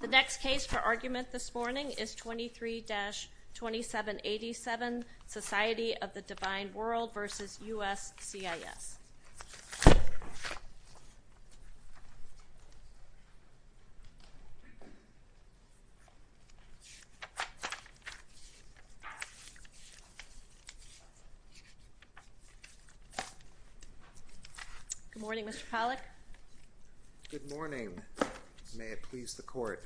The next case for argument this morning is 23-2787, Society of the Divine World v. USCIS. Good morning, Mr. Pollack. Good morning. May it please the Court.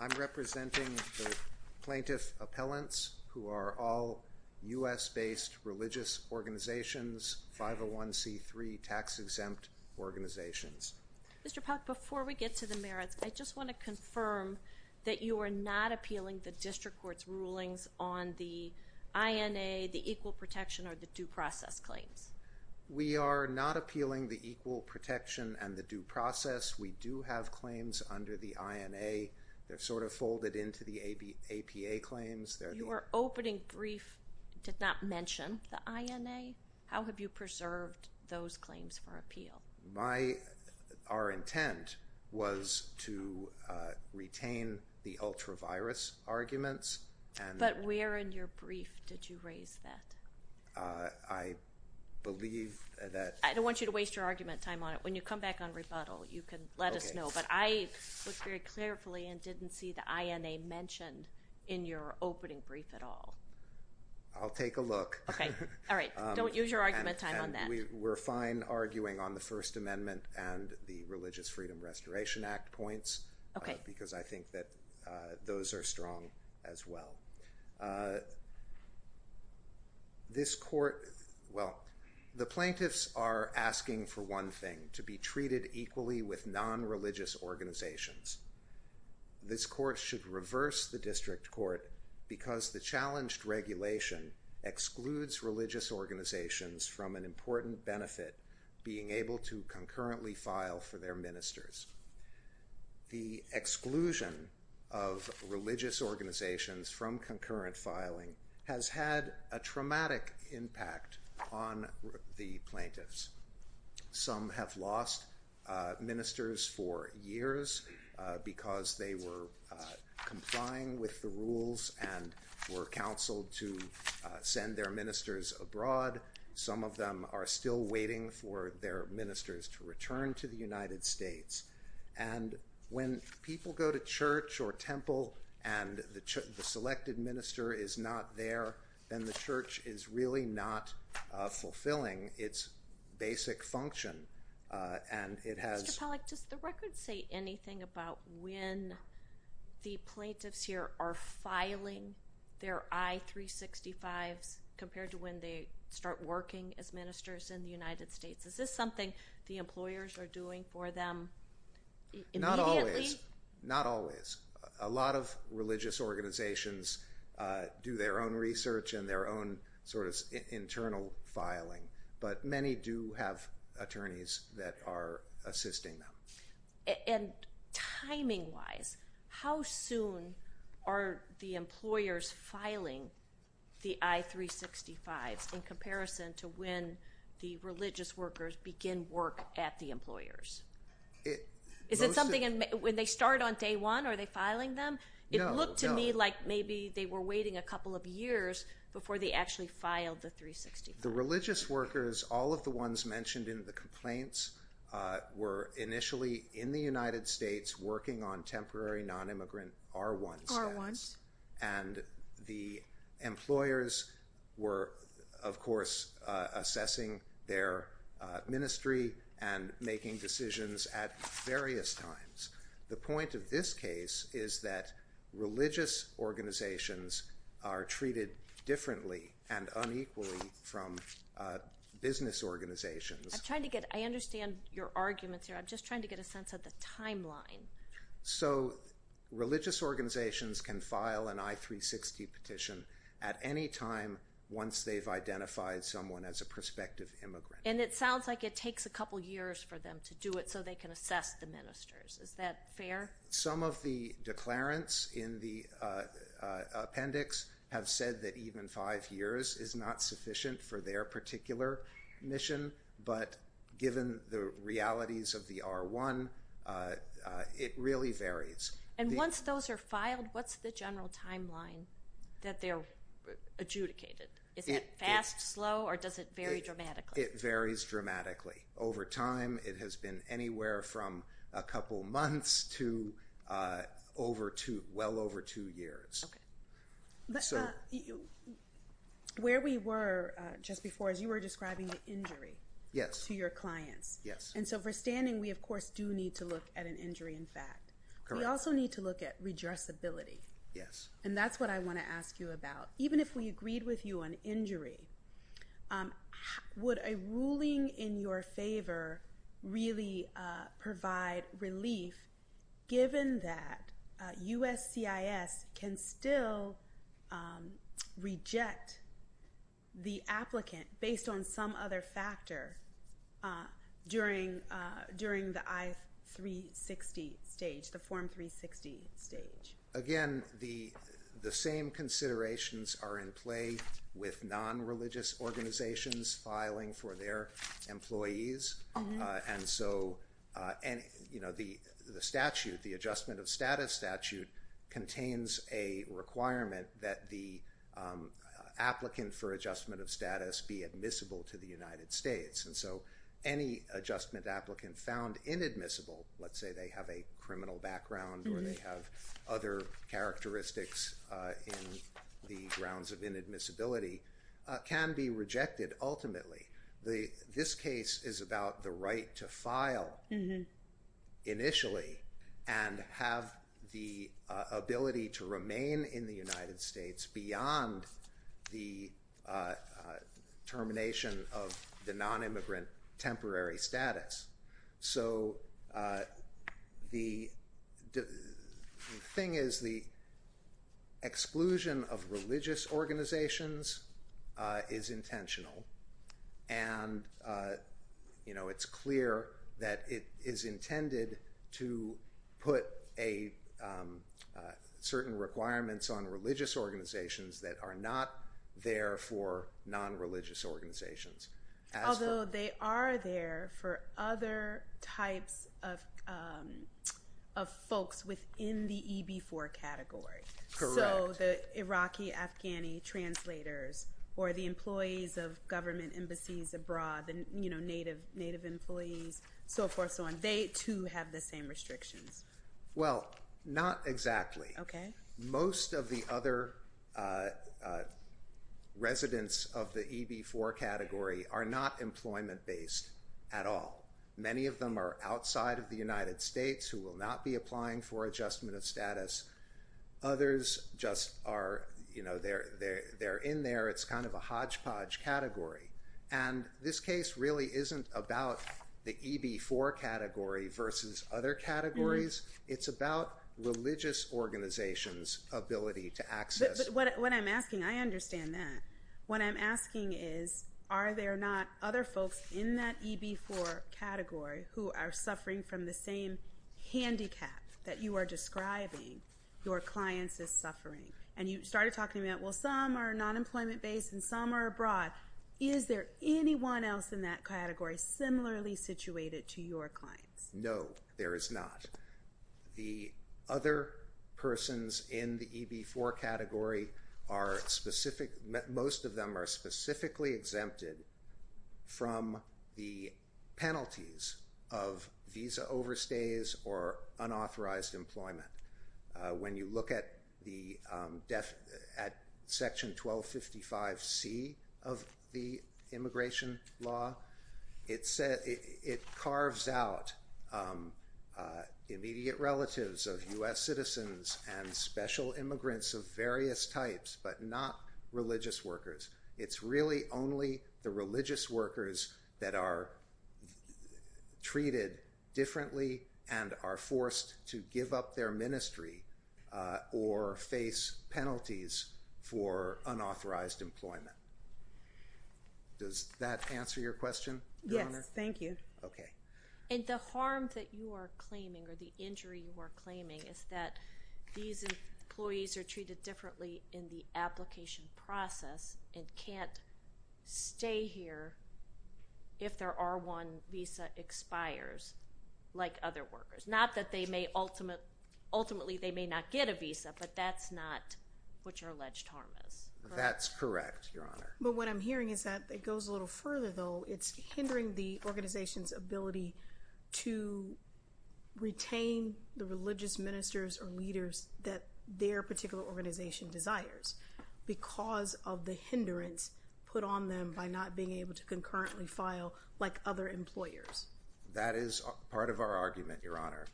I'm representing the plaintiff appellants who are all U.S.-based religious organizations, 501c3 tax-exempt organizations. Mr. Pollack, before we get to the merits, I just want to confirm that you are not appealing the district court's rulings on the INA, the equal protection, or the due process claims. We are not appealing the equal protection and the due process. We do have claims under the INA. They're sort of folded into the APA claims. Your opening brief did not mention the INA. How have you preserved those claims for appeal? Our intent was to retain the ultra-virus arguments. But where in your brief did you raise that? I believe that— I don't want you to waste your argument time on it. When you come back on rebuttal, you can let us know. But I looked very carefully and didn't see the INA mentioned in your opening brief at all. I'll take a look. Okay. All right. Don't use your argument time on that. We're fine arguing on the First Amendment and the Religious Freedom Restoration Act points because I think that those are strong as well. This court—well, the plaintiffs are asking for one thing, to be treated equally with nonreligious organizations. This court should reverse the district court because the challenged regulation excludes religious organizations from an important benefit, being able to concurrently file for their ministers. The exclusion of religious organizations from concurrent filing has had a traumatic impact on the plaintiffs. Some have lost ministers for years because they were complying with the rules and were counseled to send their ministers abroad. Some of them are still waiting for their ministers to return to the United States. And when people go to church or temple and the selected minister is not there, then the church is really not fulfilling its basic function. Mr. Pollack, does the record say anything about when the plaintiffs here are filing their I-365s compared to when they start working as ministers in the United States? Is this something the employers are doing for them immediately? Not always. Not always. A lot of religious organizations do their own research and their own sort of internal filing, but many do have attorneys that are assisting them. And timing-wise, how soon are the employers filing the I-365s in comparison to when the religious workers begin work at the employers? Is it something – when they start on day one, are they filing them? No, no. It looked to me like maybe they were waiting a couple of years before they actually filed the I-365. The religious workers, all of the ones mentioned in the complaints, were initially in the United States working on temporary nonimmigrant R1 status. R1. And the employers were, of course, assessing their ministry and making decisions at various times. The point of this case is that religious organizations are treated differently and unequally from business organizations. I'm trying to get – I understand your arguments here. I'm just trying to get a sense of the timeline. So religious organizations can file an I-360 petition at any time once they've identified someone as a prospective immigrant. And it sounds like it takes a couple years for them to do it so they can assess the ministers. Is that fair? Some of the declarants in the appendix have said that even five years is not sufficient for their particular mission. But given the realities of the R1, it really varies. And once those are filed, what's the general timeline that they're adjudicated? Is it fast, slow, or does it vary dramatically? It varies dramatically. Over time, it has been anywhere from a couple months to well over two years. Okay. But where we were just before is you were describing the injury to your clients. Yes. And so for standing, we, of course, do need to look at an injury in fact. Correct. We also need to look at redressability. Yes. And that's what I want to ask you about. Even if we agreed with you on injury, would a ruling in your favor really provide relief given that USCIS can still reject the applicant based on some other factor during the I-360 stage, the Form 360 stage? Again, the same considerations are in play with non-religious organizations filing for their employees. And so the adjustment of status statute contains a requirement that the applicant for adjustment of status be admissible to the United States. And so any adjustment applicant found inadmissible, let's say they have a criminal background or they have other characteristics in the grounds of inadmissibility, can be rejected ultimately. This case is about the right to file initially and have the ability to remain in the United States beyond the termination of the non-immigrant temporary status. So the thing is the exclusion of religious organizations is intentional. And it's clear that it is intended to put certain requirements on religious organizations that are not there for non-religious organizations. Although they are there for other types of folks within the EB-4 category. Correct. So the Iraqi Afghani translators or the employees of government embassies abroad, the native employees, so forth, so on. They too have the same restrictions. Well, not exactly. Okay. Most of the other residents of the EB-4 category are not employment-based at all. Many of them are outside of the United States who will not be applying for adjustment of status. Others just are, you know, they're in there. It's kind of a hodgepodge category. And this case really isn't about the EB-4 category versus other categories. It's about religious organizations' ability to access. But what I'm asking, I understand that. What I'm asking is are there not other folks in that EB-4 category who are suffering from the same handicap that you are describing your clients is suffering? And you started talking about, well, some are non-employment-based and some are abroad. Is there anyone else in that category similarly situated to your clients? No, there is not. The other persons in the EB-4 category are specific. Most of them are specifically exempted from the penalties of visa overstays or unauthorized employment. When you look at Section 1255C of the immigration law, it carves out immediate relatives of U.S. citizens and special immigrants of various types, but not religious workers. It's really only the religious workers that are treated differently and are forced to give up their ministry or face penalties for unauthorized employment. Does that answer your question, Your Honor? Yes, thank you. Okay. And the harm that you are claiming or the injury you are claiming is that these employees are treated differently in the application process and can't stay here if their R1 visa expires, like other workers. Not that they may ultimately not get a visa, but that's not what your alleged harm is. That's correct, Your Honor. But what I'm hearing is that it goes a little further, though. It's hindering the organization's ability to retain the religious ministers or leaders that their particular organization desires because of the hindrance put on them by not being able to concurrently file like other employers. That is part of our argument, Your Honor.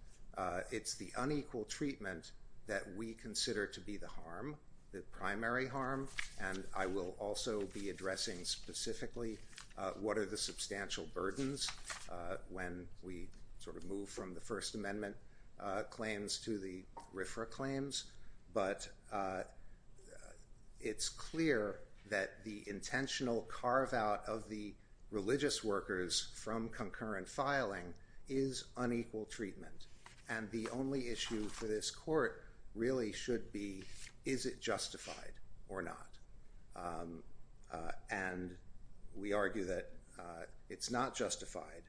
It's the unequal treatment that we consider to be the harm, the primary harm, and I will also be addressing specifically what are the substantial burdens when we sort of move from the First Amendment claims to the RFRA claims. But it's clear that the intentional carve-out of the religious workers from concurrent filing is unequal treatment. And the only issue for this court really should be, is it justified or not? And we argue that it's not justified.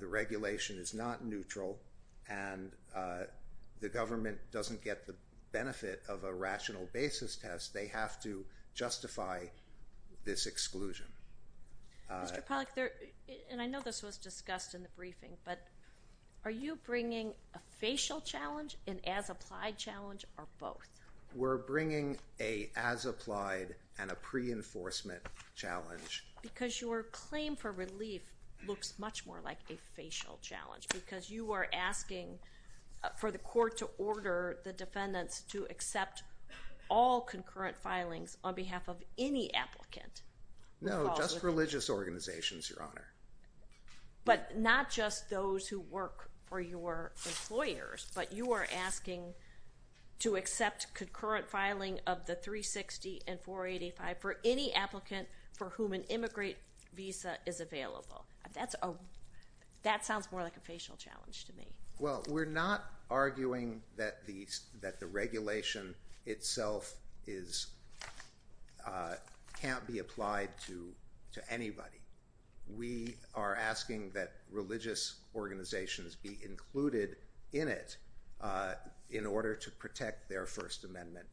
The regulation is not neutral, and the government doesn't get the benefit of a rational basis test. They have to justify this exclusion. Mr. Pollack, and I know this was discussed in the briefing, but are you bringing a facial challenge, an as-applied challenge, or both? We're bringing an as-applied and a pre-enforcement challenge. Because your claim for relief looks much more like a facial challenge because you are asking for the court to order the defendants to accept all concurrent filings on behalf of any applicant. No, just religious organizations, Your Honor. But not just those who work for your employers, but you are asking to accept concurrent filing of the 360 and 485 for any applicant for whom an immigrant visa is available. That sounds more like a facial challenge to me. Well, we're not arguing that the regulation itself can't be applied to anybody. We are asking that religious organizations be included in it in order to protect their First Amendment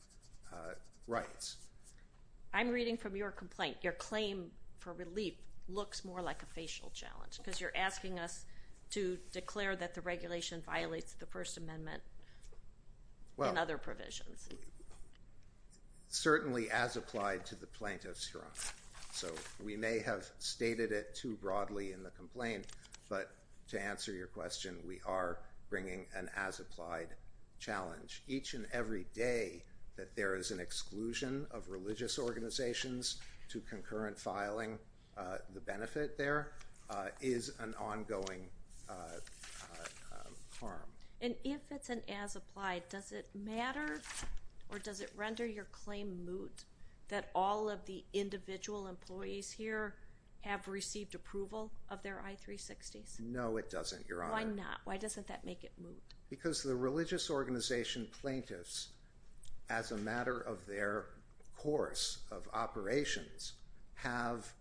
rights. I'm reading from your complaint, your claim for relief looks more like a facial challenge because you're asking us to declare that the regulation violates the First Amendment and other provisions. Certainly as applied to the plaintiffs, Your Honor. So we may have stated it too broadly in the complaint, but to answer your question, we are bringing an as-applied challenge. Each and every day that there is an exclusion of religious organizations to concurrent filing, the benefit there is an ongoing harm. And if it's an as-applied, does it matter or does it render your claim moot that all of the individual employees here have received approval of their I-360s? No, it doesn't, Your Honor. Why not? Why doesn't that make it moot? Because the religious organization plaintiffs, as a matter of their course of operations, have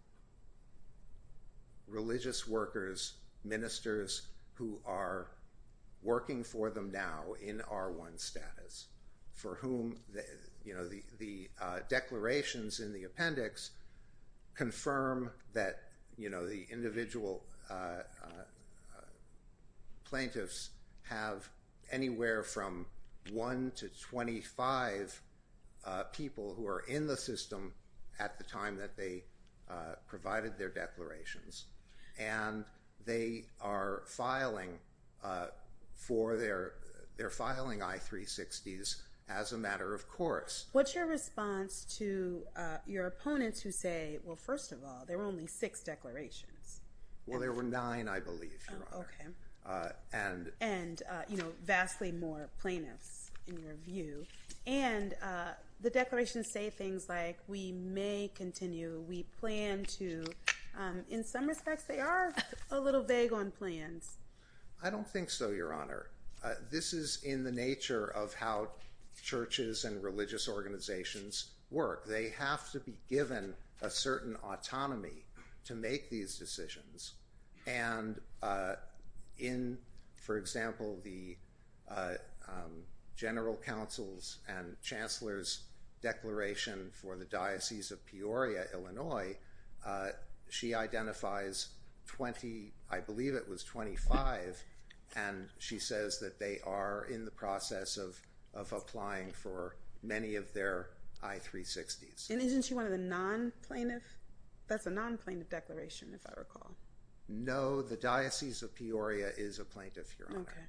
religious workers, ministers who are working for them now in R1 status for whom the declarations in the appendix confirm that the individual plaintiffs have anywhere from 1 to 25 people who are in the system at the time that they provided their declarations, and they are filing I-360s as a matter of course. What's your response to your opponents who say, well, first of all, there were only six declarations? Well, there were nine, I believe, Your Honor. Okay. And vastly more plaintiffs, in your view. And the declarations say things like, we may continue, we plan to. In some respects, they are a little vague on plans. I don't think so, Your Honor. This is in the nature of how churches and religious organizations work. They have to be given a certain autonomy to make these decisions. And in, for example, the General Counsel's and Chancellor's Declaration for the Diocese of Peoria, Illinois, she identifies 20, I believe it was 25, and she says that they are in the process of applying for many of their I-360s. And isn't she one of the non-plaintiffs? That's a non-plaintiff declaration, if I recall. No, the Diocese of Peoria is a plaintiff, Your Honor. Okay.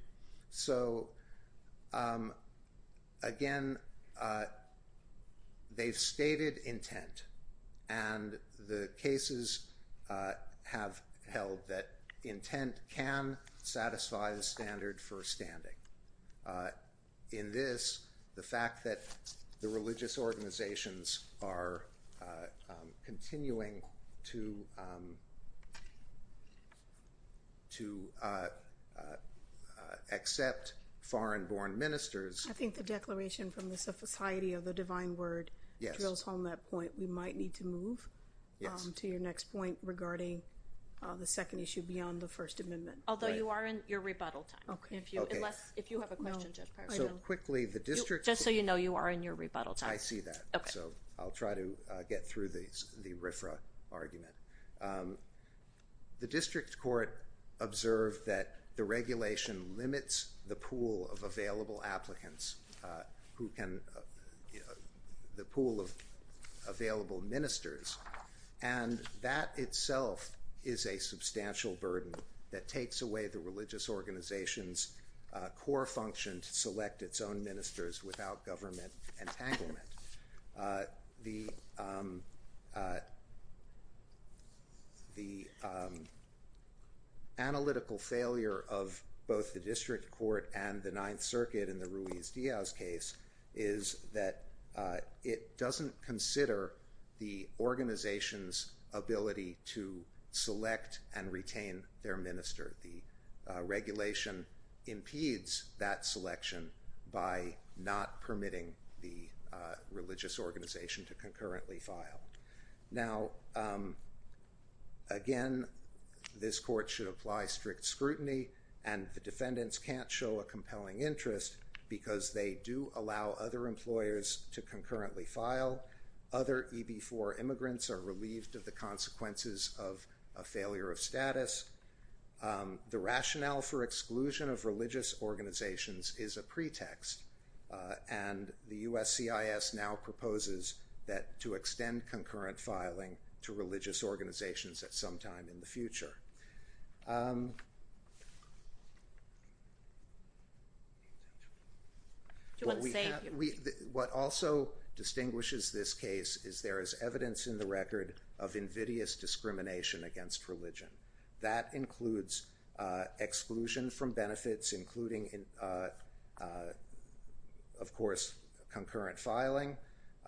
So, again, they've stated intent, and the cases have held that intent can satisfy the standard for standing. In this, the fact that the religious organizations are continuing to accept foreign-born ministers. I think the declaration from the Society of the Divine Word drills home that point. We might need to move to your next point regarding the second issue beyond the First Amendment. Although you are in your rebuttal time. Okay. Unless, if you have a question, Judge Parks. No, I don't. Just so you know, you are in your rebuttal time. I see that. Okay. So I'll try to get through the RFRA argument. The district court observed that the regulation limits the pool of available applicants, the pool of available ministers. And that itself is a substantial burden that takes away the religious organization's core function to select its own ministers without government entanglement. The analytical failure of both the district court and the Ninth Circuit in the Ruiz-Diaz case is that it doesn't consider the organization's ability to select and retain their minister. The regulation impedes that selection by not permitting the religious organization to concurrently file. Now, again, this court should apply strict scrutiny. And the defendants can't show a compelling interest because they do allow other employers to concurrently file. Other EB4 immigrants are relieved of the consequences of a failure of status. The rationale for exclusion of religious organizations is a pretext. And the USCIS now proposes that to extend concurrent filing to religious organizations at some time in the future. What also distinguishes this case is there is evidence in the record of invidious discrimination against religion. That includes exclusion from benefits, including, of course, concurrent filing.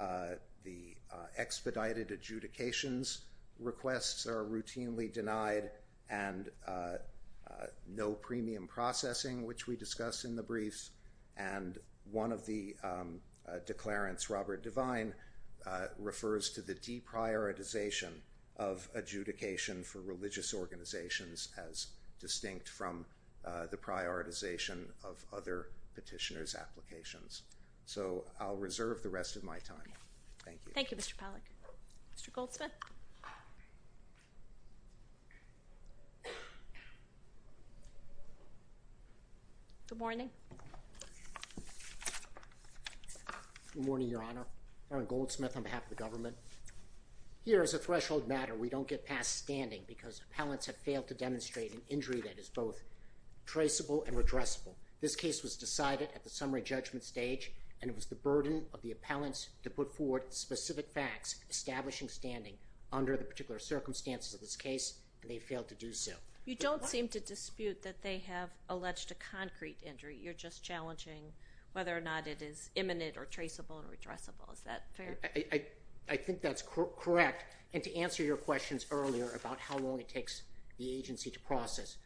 The expedited adjudications requests are routinely denied and no premium processing, which we discuss in the briefs. And one of the declarants, Robert Devine, refers to the deprioritization of adjudication for religious organizations as distinct from the prioritization of other petitioners' applications. So I'll reserve the rest of my time. Thank you. Thank you, Mr. Pollack. Mr. Goldsmith? Good morning. Good morning, Your Honor. Aaron Goldsmith on behalf of the government. Here, as a threshold matter, we don't get past standing because appellants have failed to demonstrate an injury that is both traceable and redressable. This case was decided at the summary judgment stage, and it was the burden of the appellants to put forward specific facts establishing standing under the particular circumstances of this case, and they failed to do so. You don't seem to dispute that they have alleged a concrete injury. You're just challenging whether or not it is imminent or traceable or redressable. Is that fair? I think that's correct. And to answer your questions earlier about how long it takes the agency to process,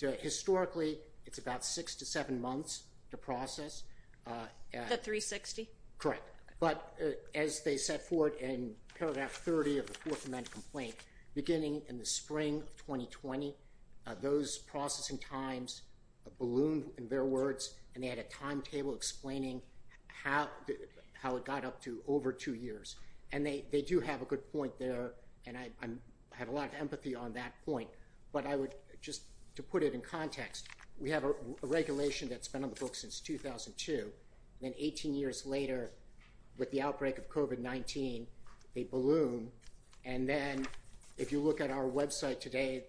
historically it's about six to seven months to process. The 360? Correct. But as they set forth in paragraph 30 of the Fourth Amendment complaint, beginning in the spring of 2020, those processing times ballooned, in their words, and they had a timetable explaining how it got up to over two years. And they do have a good point there, and I have a lot of empathy on that point. But I would just, to put it in context, we have a regulation that's been on the books since 2002. Then 18 years later, with the outbreak of COVID-19, they balloon, and then if you look at our website today,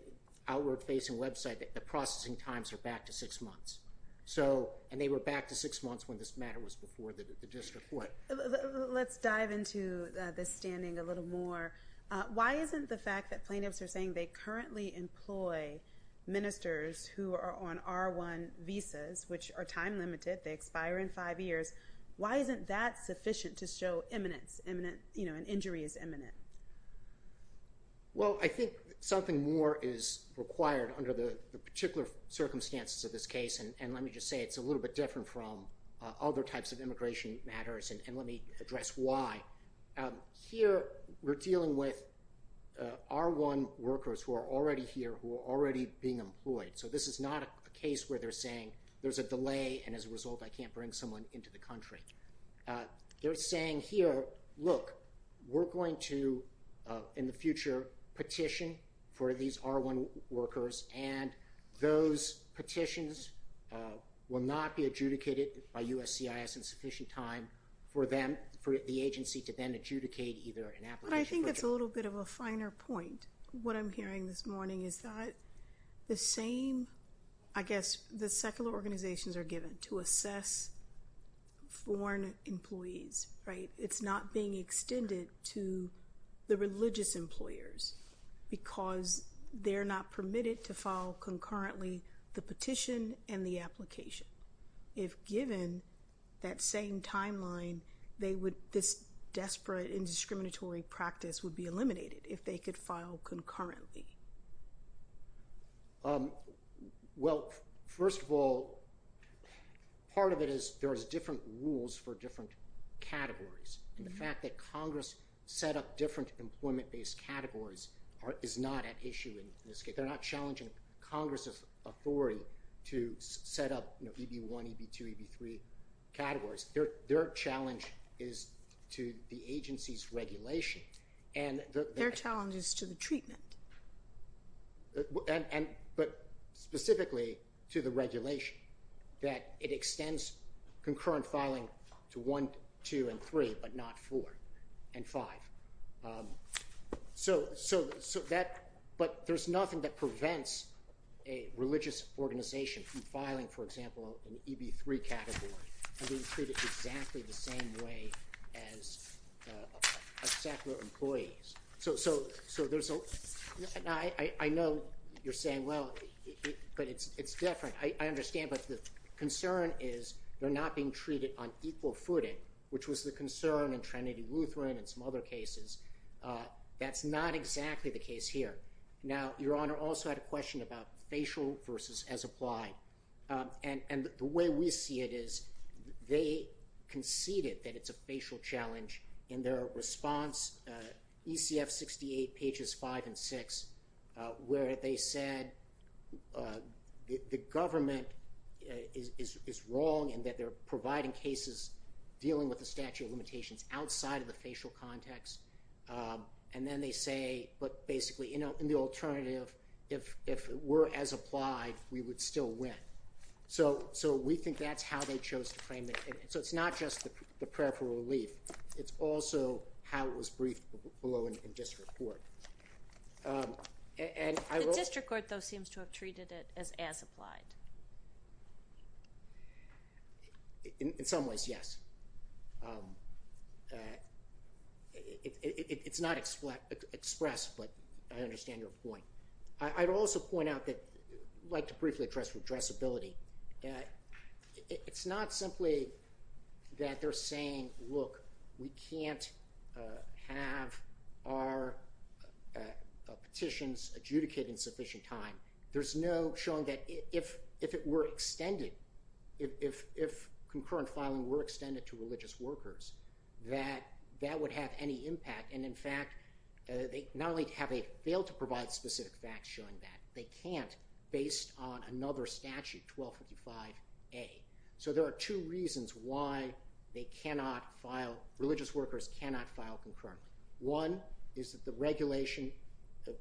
outward-facing website, the processing times are back to six months. So, and they were back to six months when this matter was before the district court. Let's dive into this standing a little more. Why isn't the fact that plaintiffs are saying they currently employ ministers who are on R1 visas, which are time-limited, they expire in five years, why isn't that sufficient to show imminence, imminent, you know, an injury is imminent? Well, I think something more is required under the particular circumstances of this case. And let me just say it's a little bit different from other types of immigration matters, and let me address why. Here, we're dealing with R1 workers who are already here, who are already being employed. So this is not a case where they're saying there's a delay, and as a result, I can't bring someone into the country. They're saying here, look, we're going to, in the future, petition for these R1 workers, and those petitions will not be adjudicated by USCIS in sufficient time for them, for the agency to then adjudicate either an application. But I think that's a little bit of a finer point. What I'm hearing this morning is that the same, I guess, the secular organizations are given to assess foreign employees, right? It's not being extended to the religious employers because they're not permitted to file concurrently the petition and the application. If given that same timeline, this desperate indiscriminatory practice would be eliminated if they could file concurrently. Well, first of all, part of it is there's different rules for different categories. And the fact that Congress set up different employment-based categories is not at issue in this case. They're not challenging Congress's authority to set up EB1, EB2, EB3 categories. Their challenge is to the agency's regulation. Their challenge is to the treatment. But specifically to the regulation, that it extends concurrent filing to 1, 2, and 3, but not 4 and 5. So that – but there's nothing that prevents a religious organization from filing, for example, an EB3 category and being treated exactly the same way as secular employees. So there's a – I know you're saying, well, but it's different. I understand, but the concern is they're not being treated on equal footing, which was the concern in Trinity Lutheran and some other cases. That's not exactly the case here. Now, Your Honor also had a question about facial versus as applied. And the way we see it is they conceded that it's a facial challenge in their response, ECF 68 pages 5 and 6, where they said the government is wrong and that they're providing cases dealing with the statute of limitations outside of the facial context. And then they say, but basically, in the alternative, if it were as applied, we would still win. So we think that's how they chose to frame it. So it's not just the prayer for relief. It's also how it was briefed below in district court. The district court, though, seems to have treated it as as applied. In some ways, yes. It's not expressed, but I understand your point. I'd also point out that I'd like to briefly address redressability. It's not simply that they're saying, look, we can't have our petitions adjudicated in sufficient time. There's no showing that if it were extended, if concurrent filing were extended to religious workers, that that would have any impact. And in fact, not only have they failed to provide specific facts showing that, they can't based on another statute, 1255A. So there are two reasons why they cannot file, religious workers cannot file concurrently. One is that the regulation,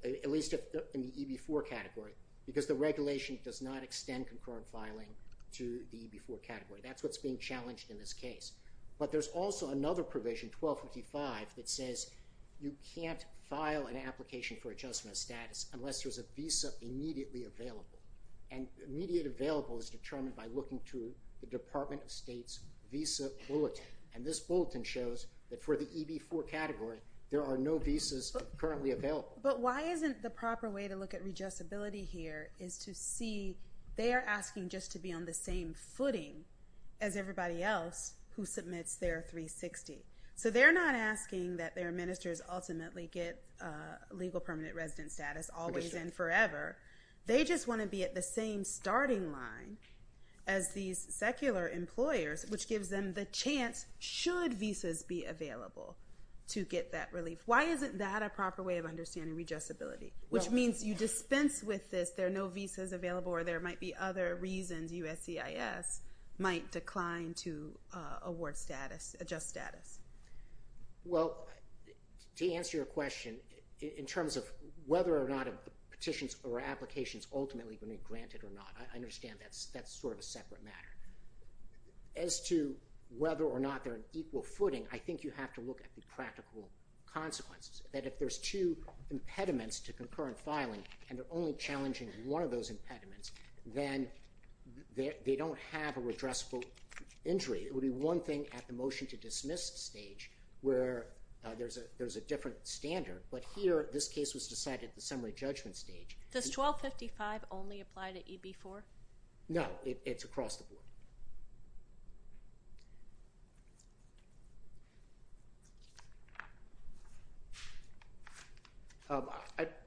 at least in the EB-4 category, because the regulation does not extend concurrent filing to the EB-4 category. That's what's being challenged in this case. But there's also another provision, 1255, that says you can't file an application for adjustment of status unless there's a visa immediately available. And immediate available is determined by looking to the Department of State's visa bulletin. And this bulletin shows that for the EB-4 category, there are no visas currently available. But why isn't the proper way to look at redressability here is to see they are asking just to be on the same footing as everybody else who submits their 360. So they're not asking that their ministers ultimately get legal permanent resident status always and forever. They just want to be at the same starting line as these secular employers, which gives them the chance, should visas be available, to get that relief. Why isn't that a proper way of understanding redressability? Which means you dispense with this, there are no visas available, or there might be other reasons USCIS might decline to award status, adjust status. Well, to answer your question, in terms of whether or not petitions or applications ultimately are going to be granted or not, I understand that's sort of a separate matter. As to whether or not they're on equal footing, I think you have to look at the practical consequences. That if there's two impediments to concurrent filing, and they're only challenging one of those impediments, then they don't have a redressable injury. It would be one thing at the motion to dismiss stage where there's a different standard, but here this case was decided at the summary judgment stage. Does 1255 only apply to EB-4? No, it's across the board.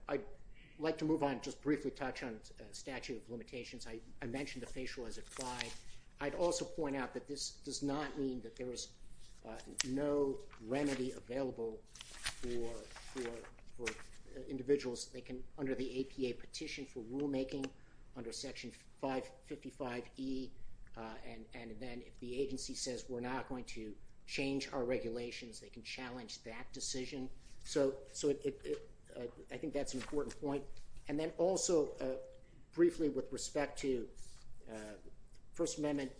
I'd like to move on, just briefly touch on statute of limitations. I mentioned the facial as applied. I'd also point out that this does not mean that there is no remedy available for individuals. They can, under the APA petition for rulemaking, under section 555E, and then if the agency says we're not going to change our regulations, they can challenge that decision. So, I think that's an important point. And then also, briefly with respect to First Amendment,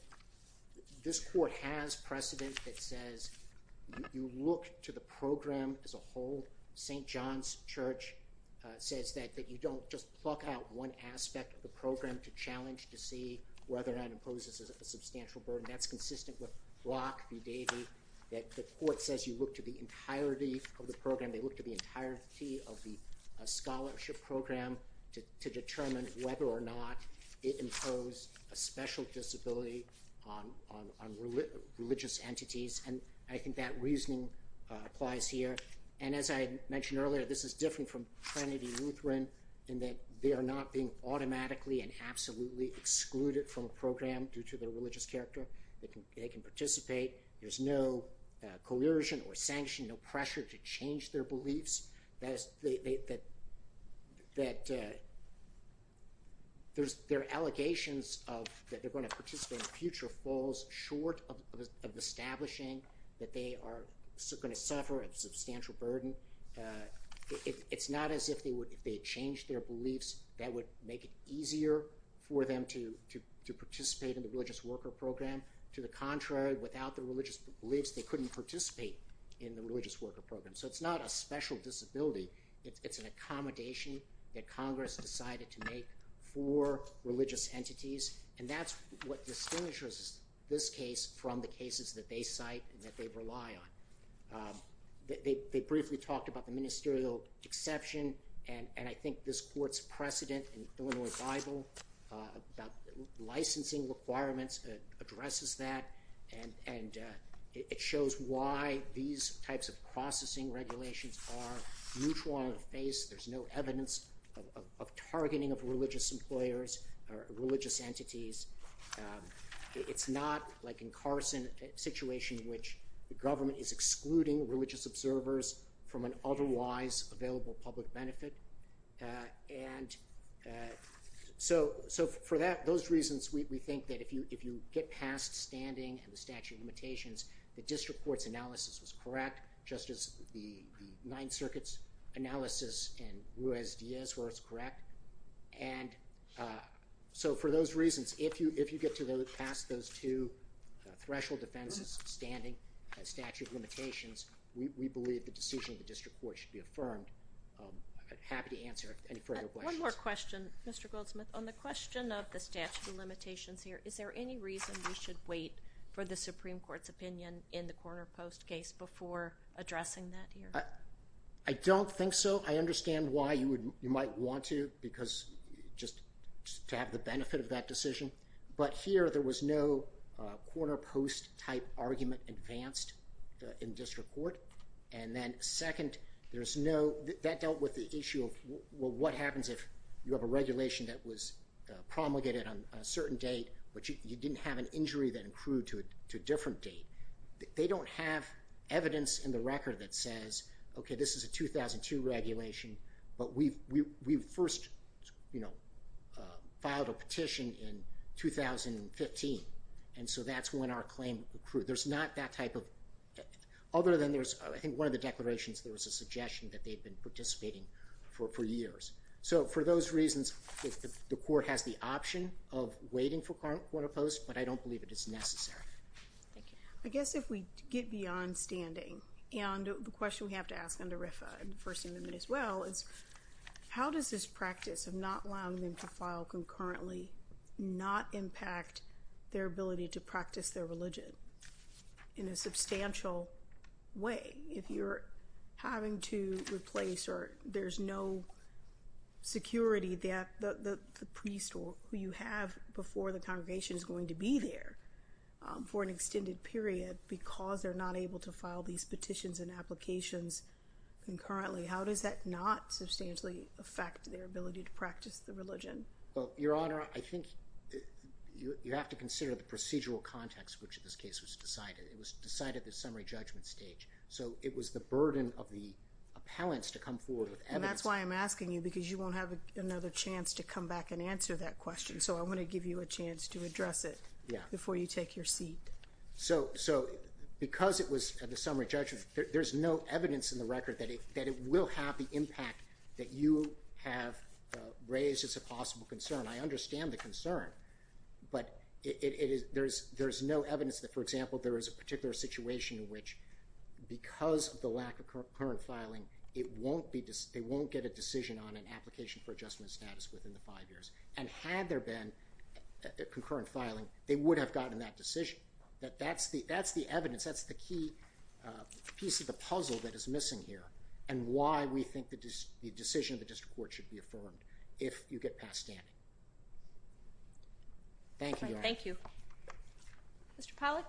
this court has precedent that says you look to the program as a whole. St. John's Church says that you don't just pluck out one aspect of the program to challenge to see whether or not it poses a substantial burden. That's consistent with Block v. Davey, that the court says you look to the entirety of the program. They look to the entirety of the scholarship program to determine whether or not it imposed a special disability on religious entities. And I think that reasoning applies here. And as I mentioned earlier, this is different from Trinity Lutheran in that they are not being automatically and absolutely excluded from a program due to their religious character. They can participate. There's no coercion or sanction, no pressure to change their beliefs. That there are allegations that they're going to participate in future falls short of establishing that they are going to suffer a substantial burden. It's not as if they changed their beliefs that would make it easier for them to participate in the Religious Worker Program. To the contrary, without the religious beliefs, they couldn't participate in the Religious Worker Program. So it's not a special disability. It's an accommodation that Congress decided to make for religious entities. And that's what distinguishes this case from the cases that they cite and that they rely on. They briefly talked about the ministerial exception. And I think this court's precedent in the Illinois Bible about licensing requirements addresses that. And it shows why these types of processing regulations are neutral on the face. There's no evidence of targeting of religious employers or religious entities. It's not like in Carson, a situation in which the government is excluding religious observers from an otherwise available public benefit. And so for those reasons, we think that if you get past standing and the statute of limitations, the district court's analysis was correct. Just as the Ninth Circuit's analysis in Ruiz-Diaz was correct. And so for those reasons, if you get past those two threshold defenses, standing and statute of limitations, we believe the decision of the district court should be affirmed. I'm happy to answer any further questions. One more question, Mr. Goldsmith. On the question of the statute of limitations here, is there any reason we should wait for the Supreme Court's opinion in the Corner Post case before addressing that here? I don't think so. First, I understand why you might want to, just to have the benefit of that decision. But here, there was no Corner Post type argument advanced in district court. And then second, that dealt with the issue of what happens if you have a regulation that was promulgated on a certain date, but you didn't have an injury that accrued to a different date. They don't have evidence in the record that says, okay, this is a 2002 regulation, but we first, you know, filed a petition in 2015. And so that's when our claim accrued. There's not that type of, other than there's, I think one of the declarations, there was a suggestion that they've been participating for years. So for those reasons, the court has the option of waiting for Corner Post, but I don't believe it is necessary. I guess if we get beyond standing, and the question we have to ask under RFFA and First Amendment as well, is how does this practice of not allowing them to file concurrently not impact their ability to practice their religion? In a substantial way, if you're having to replace or there's no security that the priest or who you have before the congregation is going to be there for an extended period because they're not able to file these petitions and applications concurrently, how does that not substantially affect their ability to practice the religion? Well, Your Honor, I think you have to consider the procedural context which in this case was decided. It was decided at the summary judgment stage. So it was the burden of the appellants to come forward with evidence. And that's why I'm asking you because you won't have another chance to come back and answer that question. So I want to give you a chance to address it before you take your seat. So because it was at the summary judgment, there's no evidence in the record that it will have the impact that you have raised as a possible concern. I understand the concern, but there's no evidence that, for example, there is a particular situation in which because of the lack of concurrent filing, they won't get a decision on an application for adjustment status within the five years. And had there been concurrent filing, they would have gotten that decision. That's the evidence. That's the key piece of the puzzle that is missing here and why we think the decision of the district court should be affirmed if you get past standing. Thank you, Your Honor. Thank you. Mr. Pollack?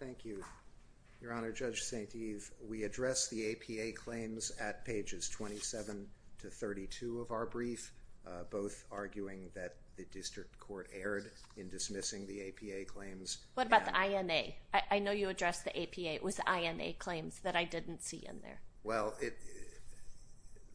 Thank you, Your Honor. Judge St. Eve, we addressed the APA claims at pages 27 to 32 of our brief, both arguing that the district court erred in dismissing the APA claims. What about the INA? I know you addressed the APA. It was the INA claims that I didn't see in there. Well,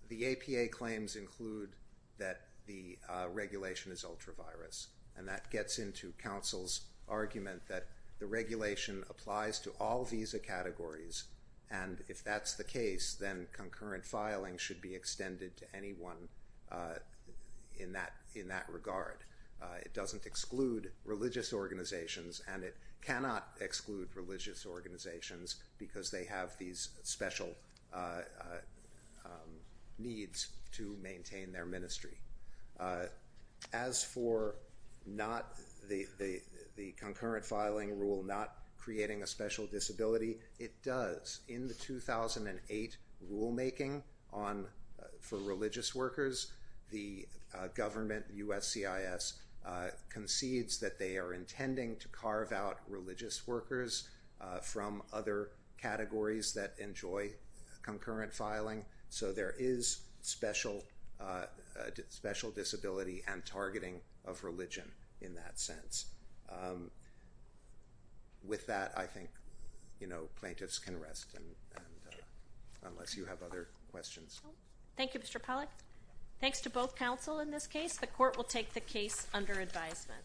the APA claims include that the regulation is ultra-virus, and that gets into counsel's argument that the regulation applies to all visa categories, and if that's the case, then concurrent filing should be extended to anyone in that regard. It doesn't exclude religious organizations, and it cannot exclude religious organizations because they have these special needs to maintain their ministry. As for the concurrent filing rule not creating a special disability, it does. In the 2008 rulemaking for religious workers, the government, USCIS, concedes that they are intending to carve out religious workers from other categories that enjoy concurrent filing, so there is special disability and targeting of religion in that sense. With that, I think plaintiffs can rest, unless you have other questions. Thank you, Mr. Pollack. Thanks to both counsel in this case. The court will take the case under advisement.